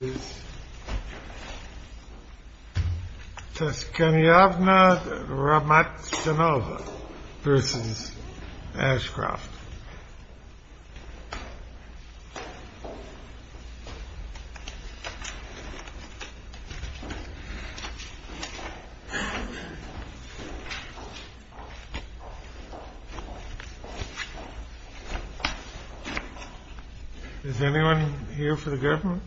This is Toscaniavna Romatchinova versus Ashcroft. Is anyone here for the government?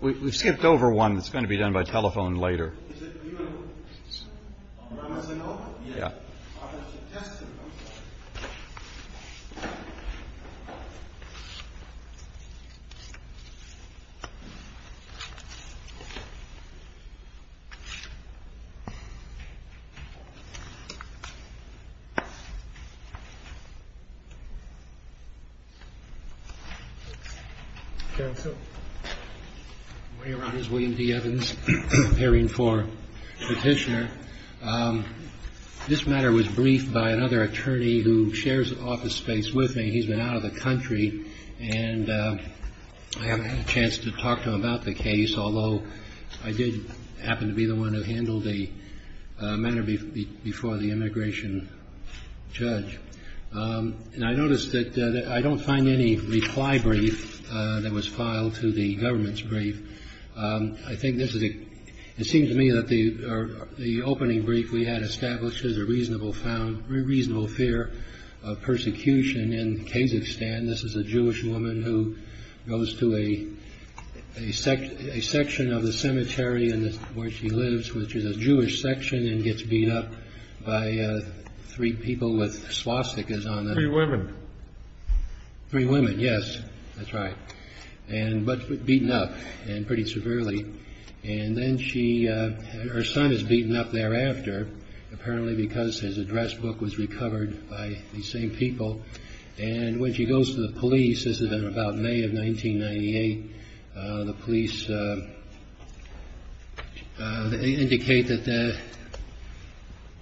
We've skipped over one that's going to be done by telephone later. Is it you, Mr. Romatchinova? Yeah. I have a suggestion. I'm sorry. The way around is William D. Evans, appearing for petitioner. This matter was briefed by another attorney who shares office space with me. He's been out of the country, and I haven't had a chance to talk to him about the case, although I did happen to be the one who handled the matter before the immigration judge. And I noticed that I don't find any reply brief that was filed to the government's brief. I think it seems to me that the opening brief we had establishes a reasonable fear of persecution in Kazakhstan. This is a Jewish woman who goes to a section of the cemetery where she lives, which is a Jewish section, and gets beat up by three people with swastikas on them. Three women. Three women, yes. That's right. But beaten up pretty severely. And then her son is beaten up thereafter, apparently because his address book was recovered by the same people. And when she goes to the police, this is in about May of 1998, the police indicate that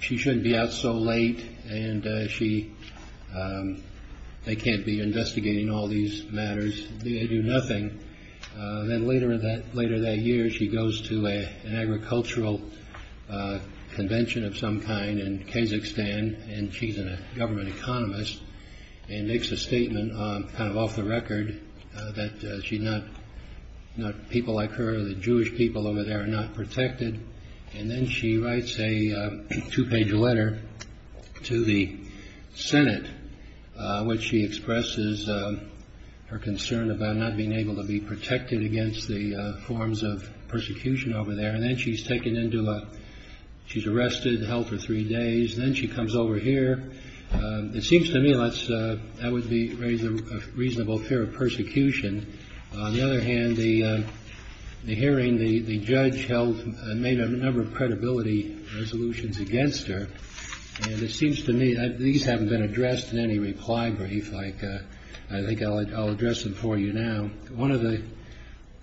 she shouldn't be out so late, and they can't be investigating all these matters. They do nothing. Then later that year, she goes to an agricultural convention of some kind in Kazakhstan, and she's a government economist, and makes a statement kind of off the record that people like her or the Jewish people over there are not protected. And then she writes a two-page letter to the Senate, which she expresses her concern about not being able to be protected against the forms of persecution over there. And then she's taken into, she's arrested, held for three days. Then she comes over here. It seems to me that would raise a reasonable fear of persecution. On the other hand, the hearing the judge held made a number of credibility resolutions against her. It seems to me that these haven't been addressed in any reply brief, like I think I'll address them for you now. One of the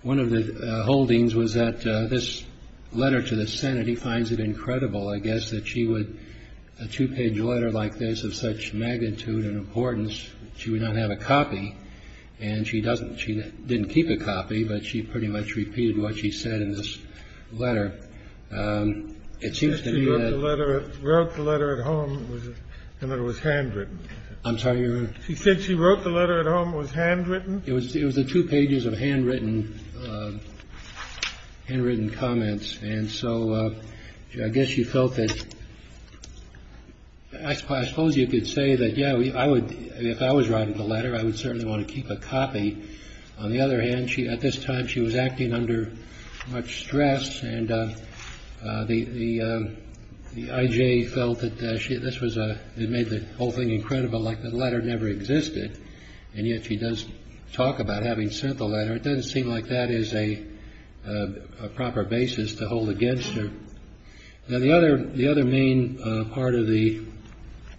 one of the holdings was that this letter to the Senate, he finds it incredible, I guess, that she would a two page letter like this of such magnitude and importance. She would not have a copy. And she doesn't. She didn't keep a copy, but she pretty much repeated what she said in this letter. It seems to me that the letter wrote the letter at home and it was handwritten. I'm sorry. She said she wrote the letter at home. It was handwritten. It was it was a two pages of handwritten, handwritten comments. And so I guess you felt that I suppose you could say that. Yeah, I would. If I was writing the letter, I would certainly want to keep a copy. On the other hand, she at this time, she was acting under much stress. And the IJ felt that this was a it made the whole thing incredible, like the letter never existed. And yet she does talk about having sent the letter. It doesn't seem like that is a proper basis to hold against her. Now, the other the other main part of the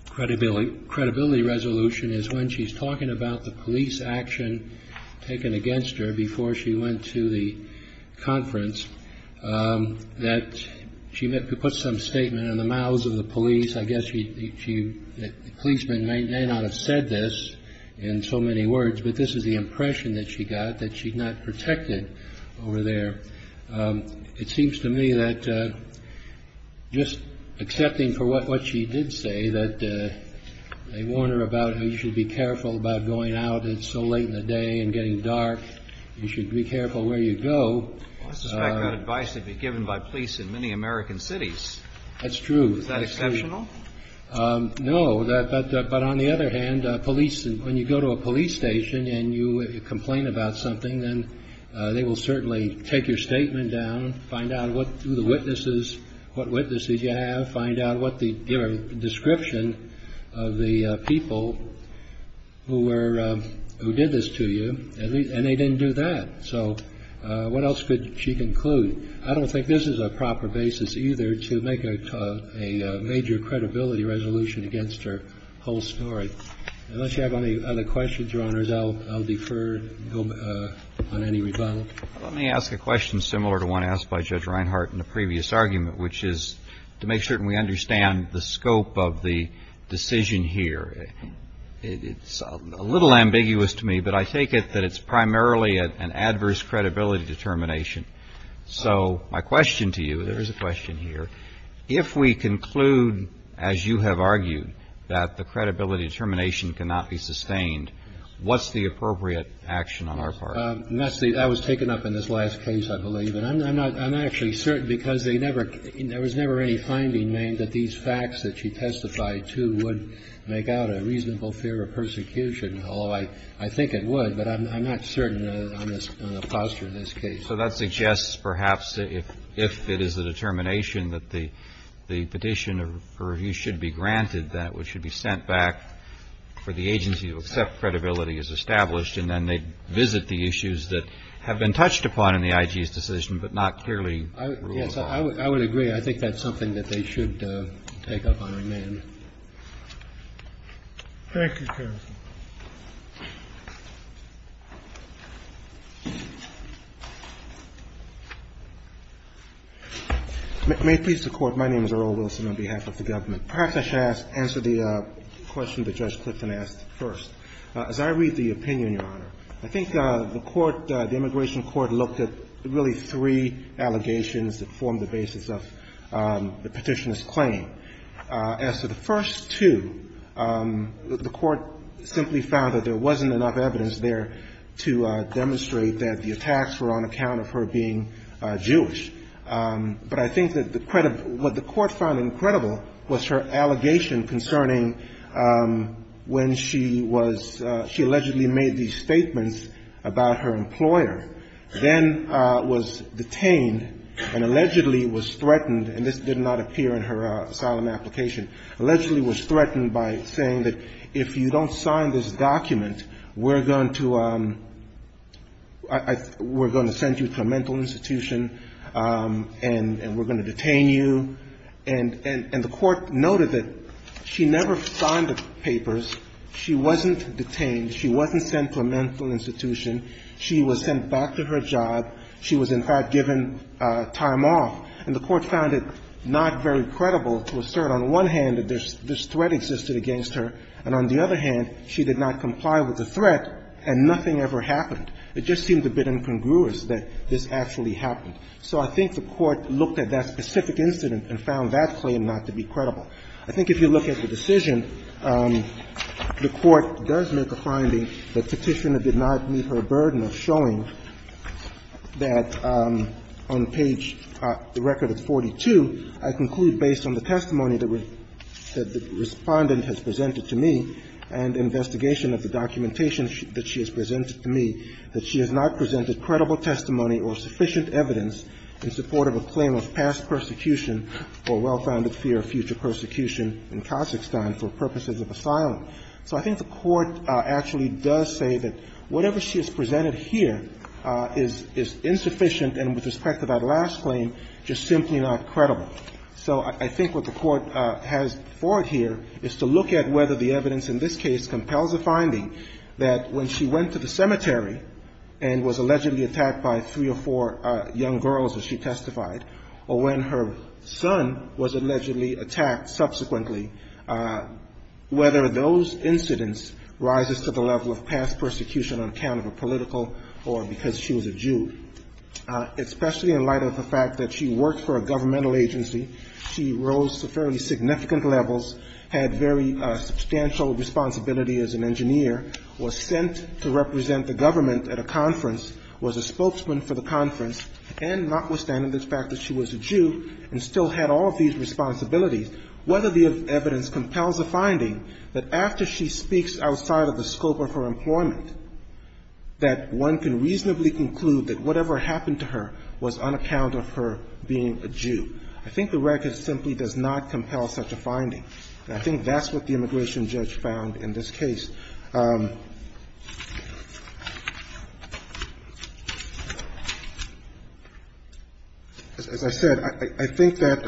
credibility, credibility resolution is when she's talking about the police action taken against her before she went to the conference that she put some statement in the mouths of the police. I guess she that the policeman may not have said this in so many words, but this is the impression that she got that she's not protected over there. It seems to me that just accepting for what what she did say that they warned her about how you should be careful about going out. It's so late in the day and getting dark. You should be careful where you go. I suspect that advice would be given by police in many American cities. That's true. Is that exceptional? No. But on the other hand, police, when you go to a police station and you complain about something, then they will certainly take your statement down. Find out what the witnesses, what witnesses you have. Find out what the description of the people who were who did this to you. And they didn't do that. So what else could she conclude? I don't think this is a proper basis either to make a major credibility resolution against her whole story. Unless you have any other questions, Your Honors, I'll defer on any rebuttal. Let me ask a question similar to one asked by Judge Reinhart in the previous argument, which is to make certain we understand the scope of the decision here. It's a little ambiguous to me, but I take it that it's primarily an adverse credibility determination. So my question to you, there is a question here. If we conclude, as you have argued, that the credibility determination cannot be sustained, what's the appropriate action on our part? That was taken up in this last case, I believe. And I'm not actually certain because they never there was never any finding made that these facts that she testified to would make out a reasonable fear of persecution. Although I think it would, but I'm not certain on the posture of this case. So that suggests, perhaps, if it is the determination that the petition for review should be granted, that it should be sent back for the agency to accept credibility as established, and then they visit the issues that have been touched upon in the IG's decision, but not clearly rule of law. I would agree. I think that's something that they should take up on remand. Thank you. Thank you, counsel. May it please the Court, my name is Earl Wilson on behalf of the government. Perhaps I should answer the question that Judge Clifton asked first. As I read the opinion, Your Honor, I think the court, the immigration court looked at really three allegations that formed the basis of the petitioner's claim. As to the first two, the court simply found that there wasn't enough evidence there to demonstrate that the attacks were on account of her being Jewish. But I think that the credit, what the court found incredible was her allegation concerning when she was, she allegedly made these statements about her employer, then was detained and allegedly was threatened. And this did not appear in her asylum application. Allegedly was threatened by saying that if you don't sign this document, we're going to, we're going to send you to a mental institution and we're going to detain you. And the court noted that she never signed the papers, she wasn't detained, she wasn't sent to a mental institution, she was sent back to her job, she was in fact given time off. And the court found it not very credible to assert on one hand that this threat existed against her, and on the other hand, she did not comply with the threat and nothing ever happened. It just seemed a bit incongruous that this actually happened. So I think the court looked at that specific incident and found that claim not to be credible. I think if you look at the decision, the court does make a finding that Petitioner did not meet her burden of showing that on page, the record of 42, I conclude based on the testimony that the respondent has presented to me and investigation of the documentation that she has presented to me, that she has not presented credible testimony or sufficient evidence in support of a claim of past persecution or well-founded fear of future persecution in Kazakhstan for purposes of asylum. So I think the court actually does say that whatever she has presented here is insufficient and with respect to that last claim, just simply not credible. So I think what the court has for it here is to look at whether the evidence in this case compels a finding that when she went to the cemetery and was allegedly attacked by three or four young girls, as she testified, or when her son was allegedly attacked subsequently, whether those incidents rises to the level of past persecution on account of a political or because she was a Jew. Especially in light of the fact that she worked for a governmental agency, she rose to fairly significant levels, had very substantial responsibility as an engineer, was sent to represent the government at a conference, was a spokesman for the conference, and notwithstanding the fact that she was a Jew and still had all of these responsibilities, whether the evidence compels a finding that after she speaks outside of the scope of her employment, that one can reasonably conclude that whatever happened to her was on account of her being a Jew. I think the record simply does not compel such a finding. And I think that's what the immigration judge found in this case. As I said, I think that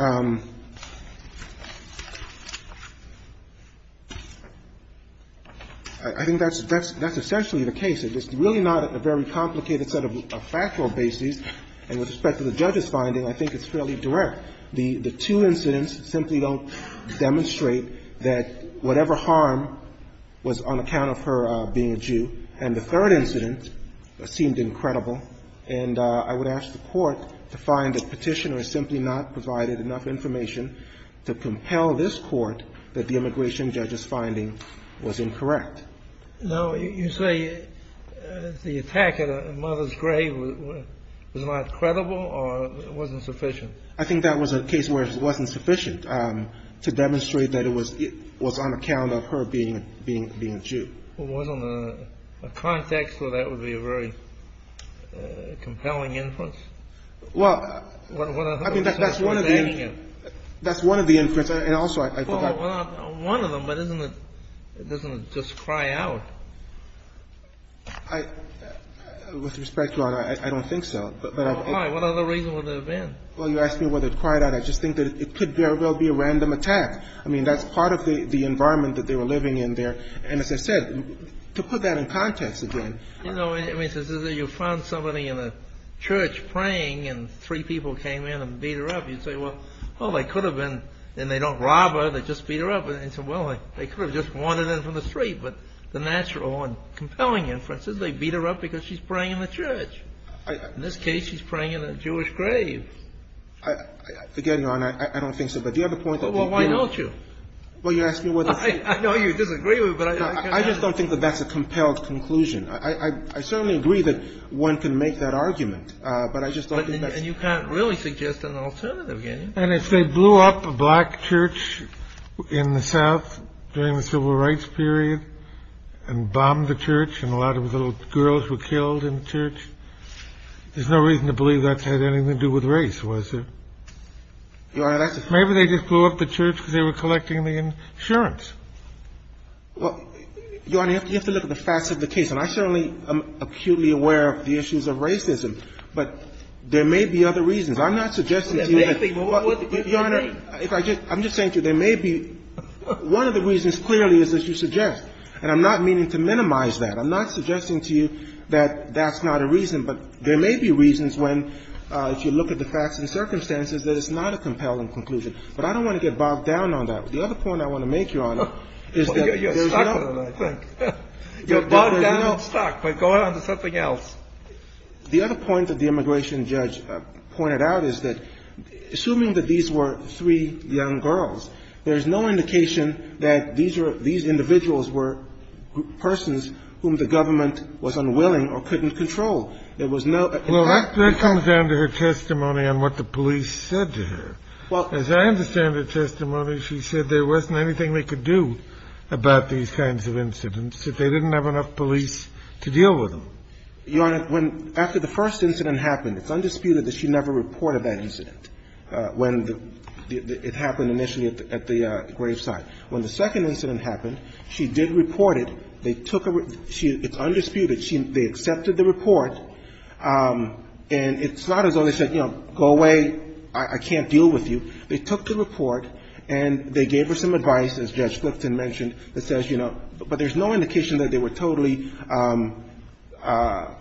that's essentially the case. It's really not a very complicated set of factual bases, and with respect to the judge's finding, I think it's fairly direct. The two incidents simply don't demonstrate that whatever harm was on account of her being a Jew and the third incident seemed incredible. And I would ask the court to find the petitioner simply not provided enough information to compel this court that the immigration judge's finding was incorrect. Now, you say the attack at a mother's grave was not credible or it wasn't sufficient? I think that was a case where it wasn't sufficient to demonstrate that it was on account of her being a Jew. It wasn't a context where that would be a very compelling inference? Well, I mean, that's one of the inferences. Well, one of them, but doesn't it just cry out? With respect to that, I don't think so. Why? What other reason would there have been? Well, you asked me whether it cried out. I just think that it could very well be a random attack. I mean, that's part of the environment that they were living in there. And as I said, to put that in context again. You know, you found somebody in a church praying and three people came in and beat her up. You'd say, well, they could have been, and they don't rob her, they just beat her up. Well, they could have just wandered in from the street. But the natural and compelling inferences, they beat her up because she's praying in the church. In this case, she's praying in a Jewish grave. Again, Your Honor, I don't think so. But the other point that you... Well, why don't you? Well, you asked me whether... I know you disagree with me, but... I just don't think that that's a compelled conclusion. I certainly agree that one can make that argument, but I just don't think that... And you can't really suggest an alternative, can you? And if they blew up a black church in the South during the civil rights period and bombed the church and a lot of the little girls were killed in the church, there's no reason to believe that had anything to do with race, was there? Your Honor, that's a... Sure. Well, Your Honor, you have to look at the facts of the case. And I certainly am acutely aware of the issues of racism. But there may be other reasons. I'm not suggesting to you that... There may be more. Your Honor, I'm just saying to you, there may be... One of the reasons clearly is that you suggest. And I'm not meaning to minimize that. I'm not suggesting to you that that's not a reason. But there may be reasons when, if you look at the facts and circumstances, that it's not a compelling conclusion. But I don't want to get bogged down on that. The other point I want to make, Your Honor, is that... You're stuck on it, I think. You're bogged down and stuck by going on to something else. The other point that the immigration judge pointed out is that, assuming that these were three young girls, there's no indication that these individuals were persons whom the government was unwilling or couldn't control. There was no... Well, that comes down to her testimony on what the police said to her. As I understand her testimony, she said there wasn't anything they could do about these kinds of incidents if they didn't have enough police to deal with them. Your Honor, when... After the first incident happened, it's undisputed that she never reported that incident when it happened initially at the gravesite. When the second incident happened, she did report it. They took a... It's undisputed. They accepted the report. And it's not as though they said, you know, go away, I can't deal with you. They took the report and they gave her some advice, as Judge Clifton mentioned, that says, you know, but there's no indication that they were totally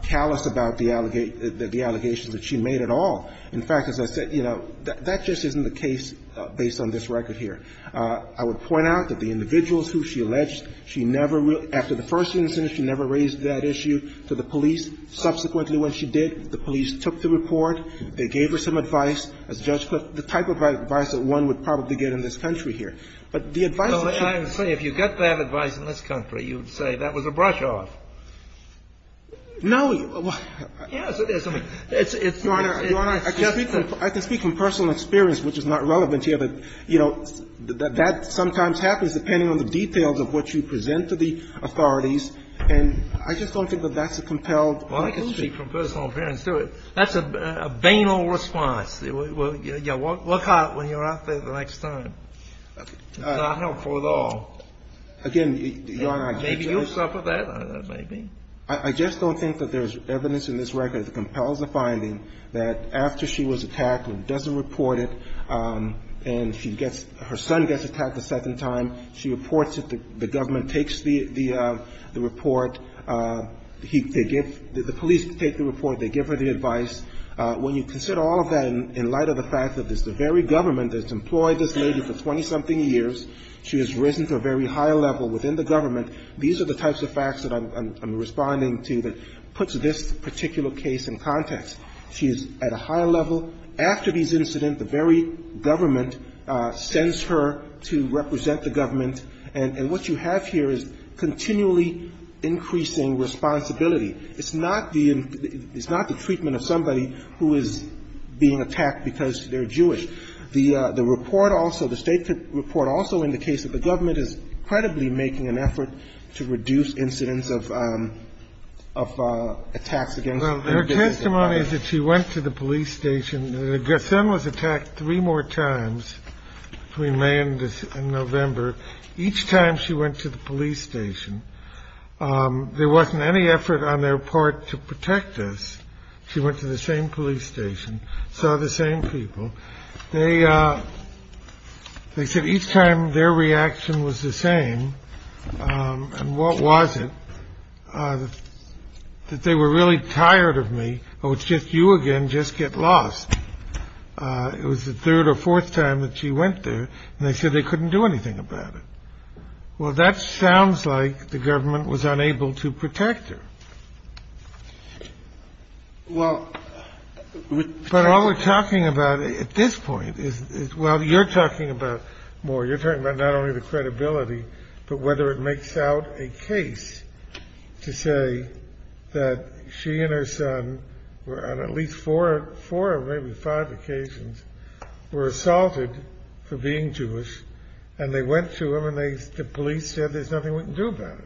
callous about the allegations that she made at all. In fact, as I said, you know, that just isn't the case based on this record here. I would point out that the individuals who she alleged, she never... After the first incident, she never raised that issue to the police. Subsequently, when she did, the police took the report. They gave her some advice. As Judge Clift, the type of advice that one would probably get in this country here. But the advice... Well, I would say, if you got that advice in this country, you would say that was a brush off. No. Yes, it is. Your Honor, I can speak from personal experience, which is not relevant here, but, you know, that sometimes happens depending on the details of what you present to the authorities. And I just don't think that that's a compelled... Well, I can speak from personal experience, too. That's a banal response. Yeah, well, look hot when you're out there the next time. It's not helpful at all. Again, Your Honor... Maybe you'll suffer that, maybe. I just don't think that there's evidence in this record that compels the finding that after she was attacked and doesn't report it, and she gets... Her son gets attacked a second time. She reports it. The government takes the report. They give... The police take the report. They give her the advice. When you consider all of that in light of the fact that it's the very government that's employed this lady for 20-something years, she has risen to a very high level within the government, these are the types of facts that I'm responding to that puts this particular case in context. She is at a high level. After these incidents, the very government sends her to represent the government. And what you have here is continually increasing responsibility. It's not the treatment of somebody who is being attacked because they're Jewish. The state report also indicates that the government is credibly making an effort to reduce incidents of attacks against... Her testimony is that she went to the police station. Her son was attacked three more times between May and November. Each time she went to the police station, there wasn't any effort on their part to protect us. She went to the same police station, saw the same people. They said each time their reaction was the same. And what was it? That they were really tired of me. Oh, it's just you again. Just get lost. It was the third or fourth time that she went there. And they said they couldn't do anything about it. Well, that sounds like the government was unable to protect her. But all we're talking about at this point is... Well, you're talking about more. You're talking about not only the credibility, but whether it makes out a case to say that she and her son were on at least four or maybe five occasions were assaulted for being Jewish and they went to them and the police said there's nothing we can do about it.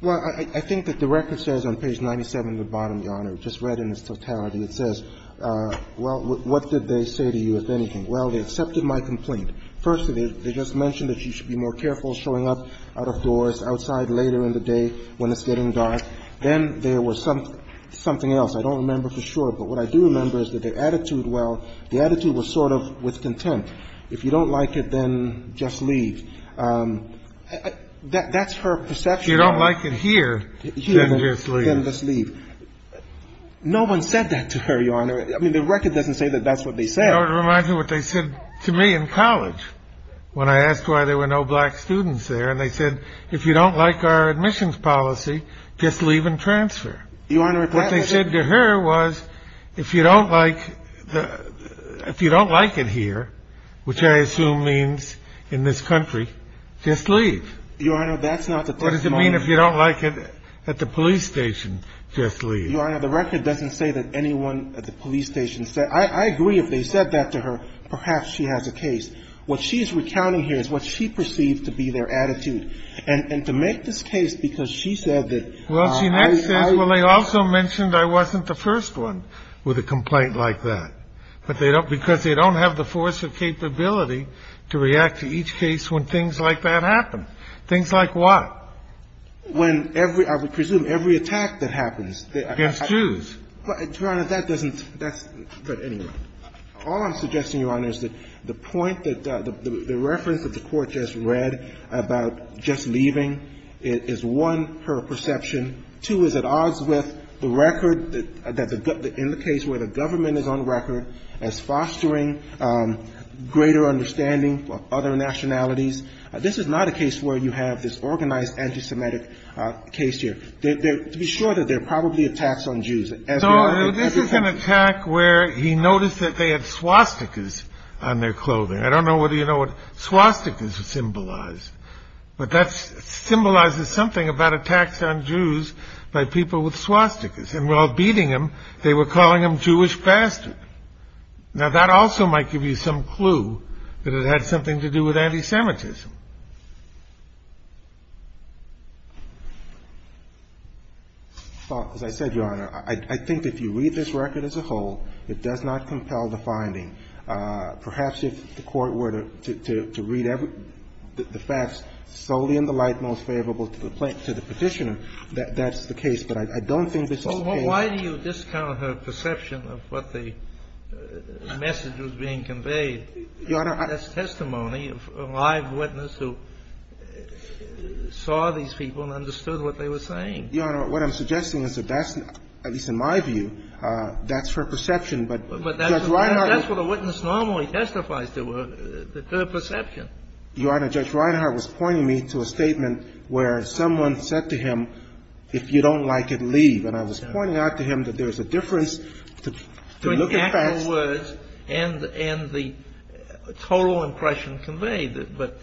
Well, I think that the record says on page 97 at the bottom, Your Honor, just read in its totality, it says, well, what did they say to you, if anything? Well, they accepted my complaint. Firstly, they just mentioned that you should be more careful showing up out of doors, outside later in the day when it's getting dark. Then there was something else. I don't remember for sure, but what I do remember is that the attitude, well, the attitude was sort of with contempt. If you don't like it, then just leave. That's her perception. If you don't like it here, then just leave. No one said that to her, Your Honor. I mean, the record doesn't say that that's what they said. It reminds me of what they said to me in college when I asked why there were no black students there. And they said, if you don't like our admissions policy, just leave and transfer. What they said to her was, if you don't like it here, which I assume means in this country, just leave. Your Honor, that's not the testimony. What does it mean if you don't like it at the police station? Just leave. Your Honor, the record doesn't say that anyone at the police station said, I agree if they said that to her, perhaps she has a case. What she's recounting here is what she perceived to be their attitude. And to make this case because she said that Well, she next says, well, they also mentioned I wasn't the first one with a complaint like that. But they don't, because they don't have the force of capability to react to each case when things like that happen. Things like what? When every, I would presume every attack that happens against Jews. Your Honor, that doesn't, that's, but anyway. All I'm suggesting, Your Honor, is that the point that the reference that the Court just read about just leaving is one, her perception, two, is at odds with the record that indicates where the government is on record as fostering greater understanding of other nationalities. This is not a case where you have this organized anti-Semitic case here. To be sure, there are probably attacks on Jews. So this is an attack where he noticed that they had swastikas on their clothing. I don't know whether you know what swastikas symbolize. But that symbolizes something about attacks on Jews by people with swastikas. And while beating them, they were calling them Jewish bastards. Now that also might give you some clue that it had something to do with anti-Semitism. Well, as I said, Your Honor, I think if you read this record as a whole, it does not compel the finding. Perhaps if the Court were to read the facts solely in the light most favorable to the Petitioner, that's the case. Why do you discount her perception of what the message was being conveyed as testimony of a live witness who saw these people and understood what they were saying? Your Honor, what I'm suggesting is that that's, at least in my view, that's her perception. But that's what a witness normally testifies to, their perception. Your Honor, Judge Reinhart was pointing me to a statement where someone said to him, if you don't like it, leave. And I was pointing out to him that there's a difference between actual words and the total impression conveyed. But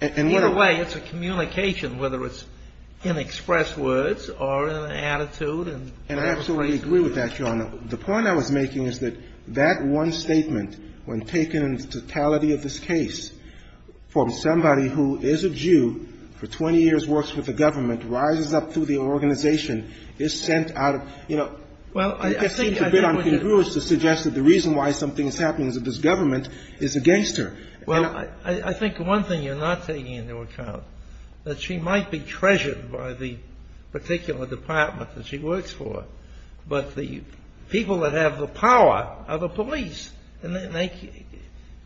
in a way, it's a communication, whether it's in expressed words or in an attitude. And I absolutely agree with that, Your Honor. The point I was making is that that one statement, when taken in totality of this case, from somebody who is a Jew, for 20 years works with the government, rises up through the organization, is sent out of, you know, I think it's a bit uncongruous to suggest that the reason why something's happening is that this government is against her. Well, I think one thing you're not taking into account is that she might be treasured by the particular department that she works for, but the people that have the power are the police. And they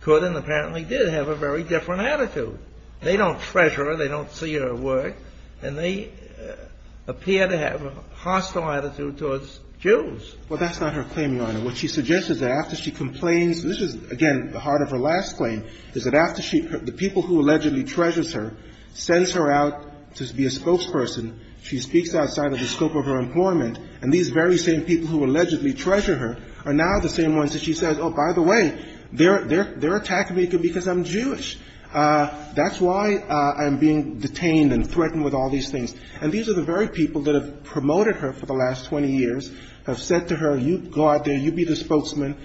could and apparently did have a very different attitude. They don't treasure her, they don't see her work, and they appear to have a hostile attitude towards Jews. Well, that's not her claim, Your Honor. What she suggests is that after she complains, this is, again, the heart of her last claim, is that after the people who allegedly treasures her sends her out to be a spokesperson, she speaks outside of the scope of her employment, and these very same people who allegedly treasure her are now the same ones that she says, oh, by the way, they're attacking me because I'm Jewish. That's why I'm being detained and threatened with all these things. And these are the very people that have promoted her for the last 20 years, have said to her, you go out there, you be the spokesman.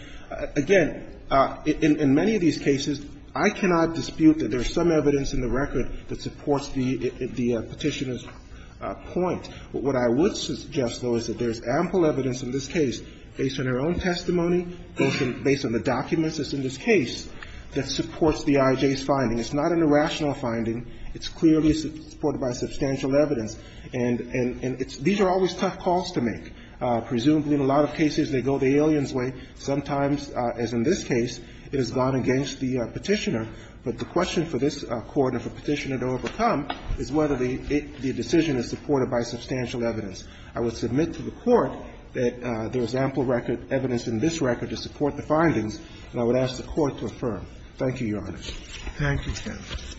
Again, in many of these cases, I cannot dispute that there's some evidence in the record that supports the Petitioner's point. What I would suggest, though, is that there's ample evidence in this case based on her own testimony, based on the documents that's in this case that supports the IJ's finding. It's not an irrational finding. It's clearly supported by substantial evidence. And these are always tough calls to make. Presumably, in a lot of cases, they go the alien's way. Sometimes, as in this case, it has gone against the Petitioner. But the question for this Court and for Petitioner to overcome is whether the decision is supported by substantial evidence. I would submit to the Court that there's ample evidence in this record to support the findings, and I would ask the Court to affirm. Thank you, Your Honor. Thank you, Justice.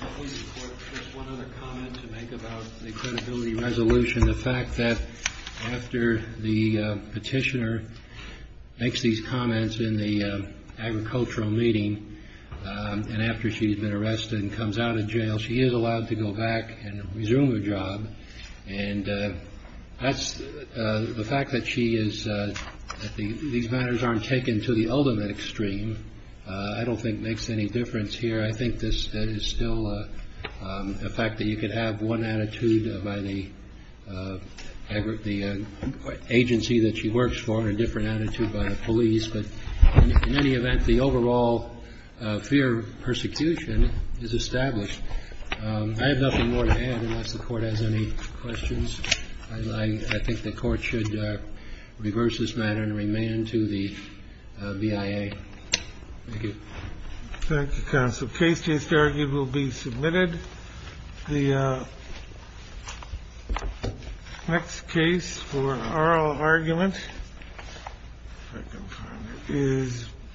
I'll leave the Court with just one other comment to make about the credibility resolution. The fact that after the Petitioner makes these comments in the agricultural meeting and after she's been arrested and comes out of jail, she is allowed to go back and resume her job and the fact that these matters aren't taken to the ultimate extreme I don't think makes any difference here. I think this is still a fact that you could have one attitude by the agency that she works for and a different attitude by the police. In any event, the overall fear of persecution is established. I have nothing more to add unless the Court has any questions. I think the Court should reverse this matter and remand to the BIA. Thank you. Thank you, Counsel. Case to be argued will be submitted. Next case for oral argument is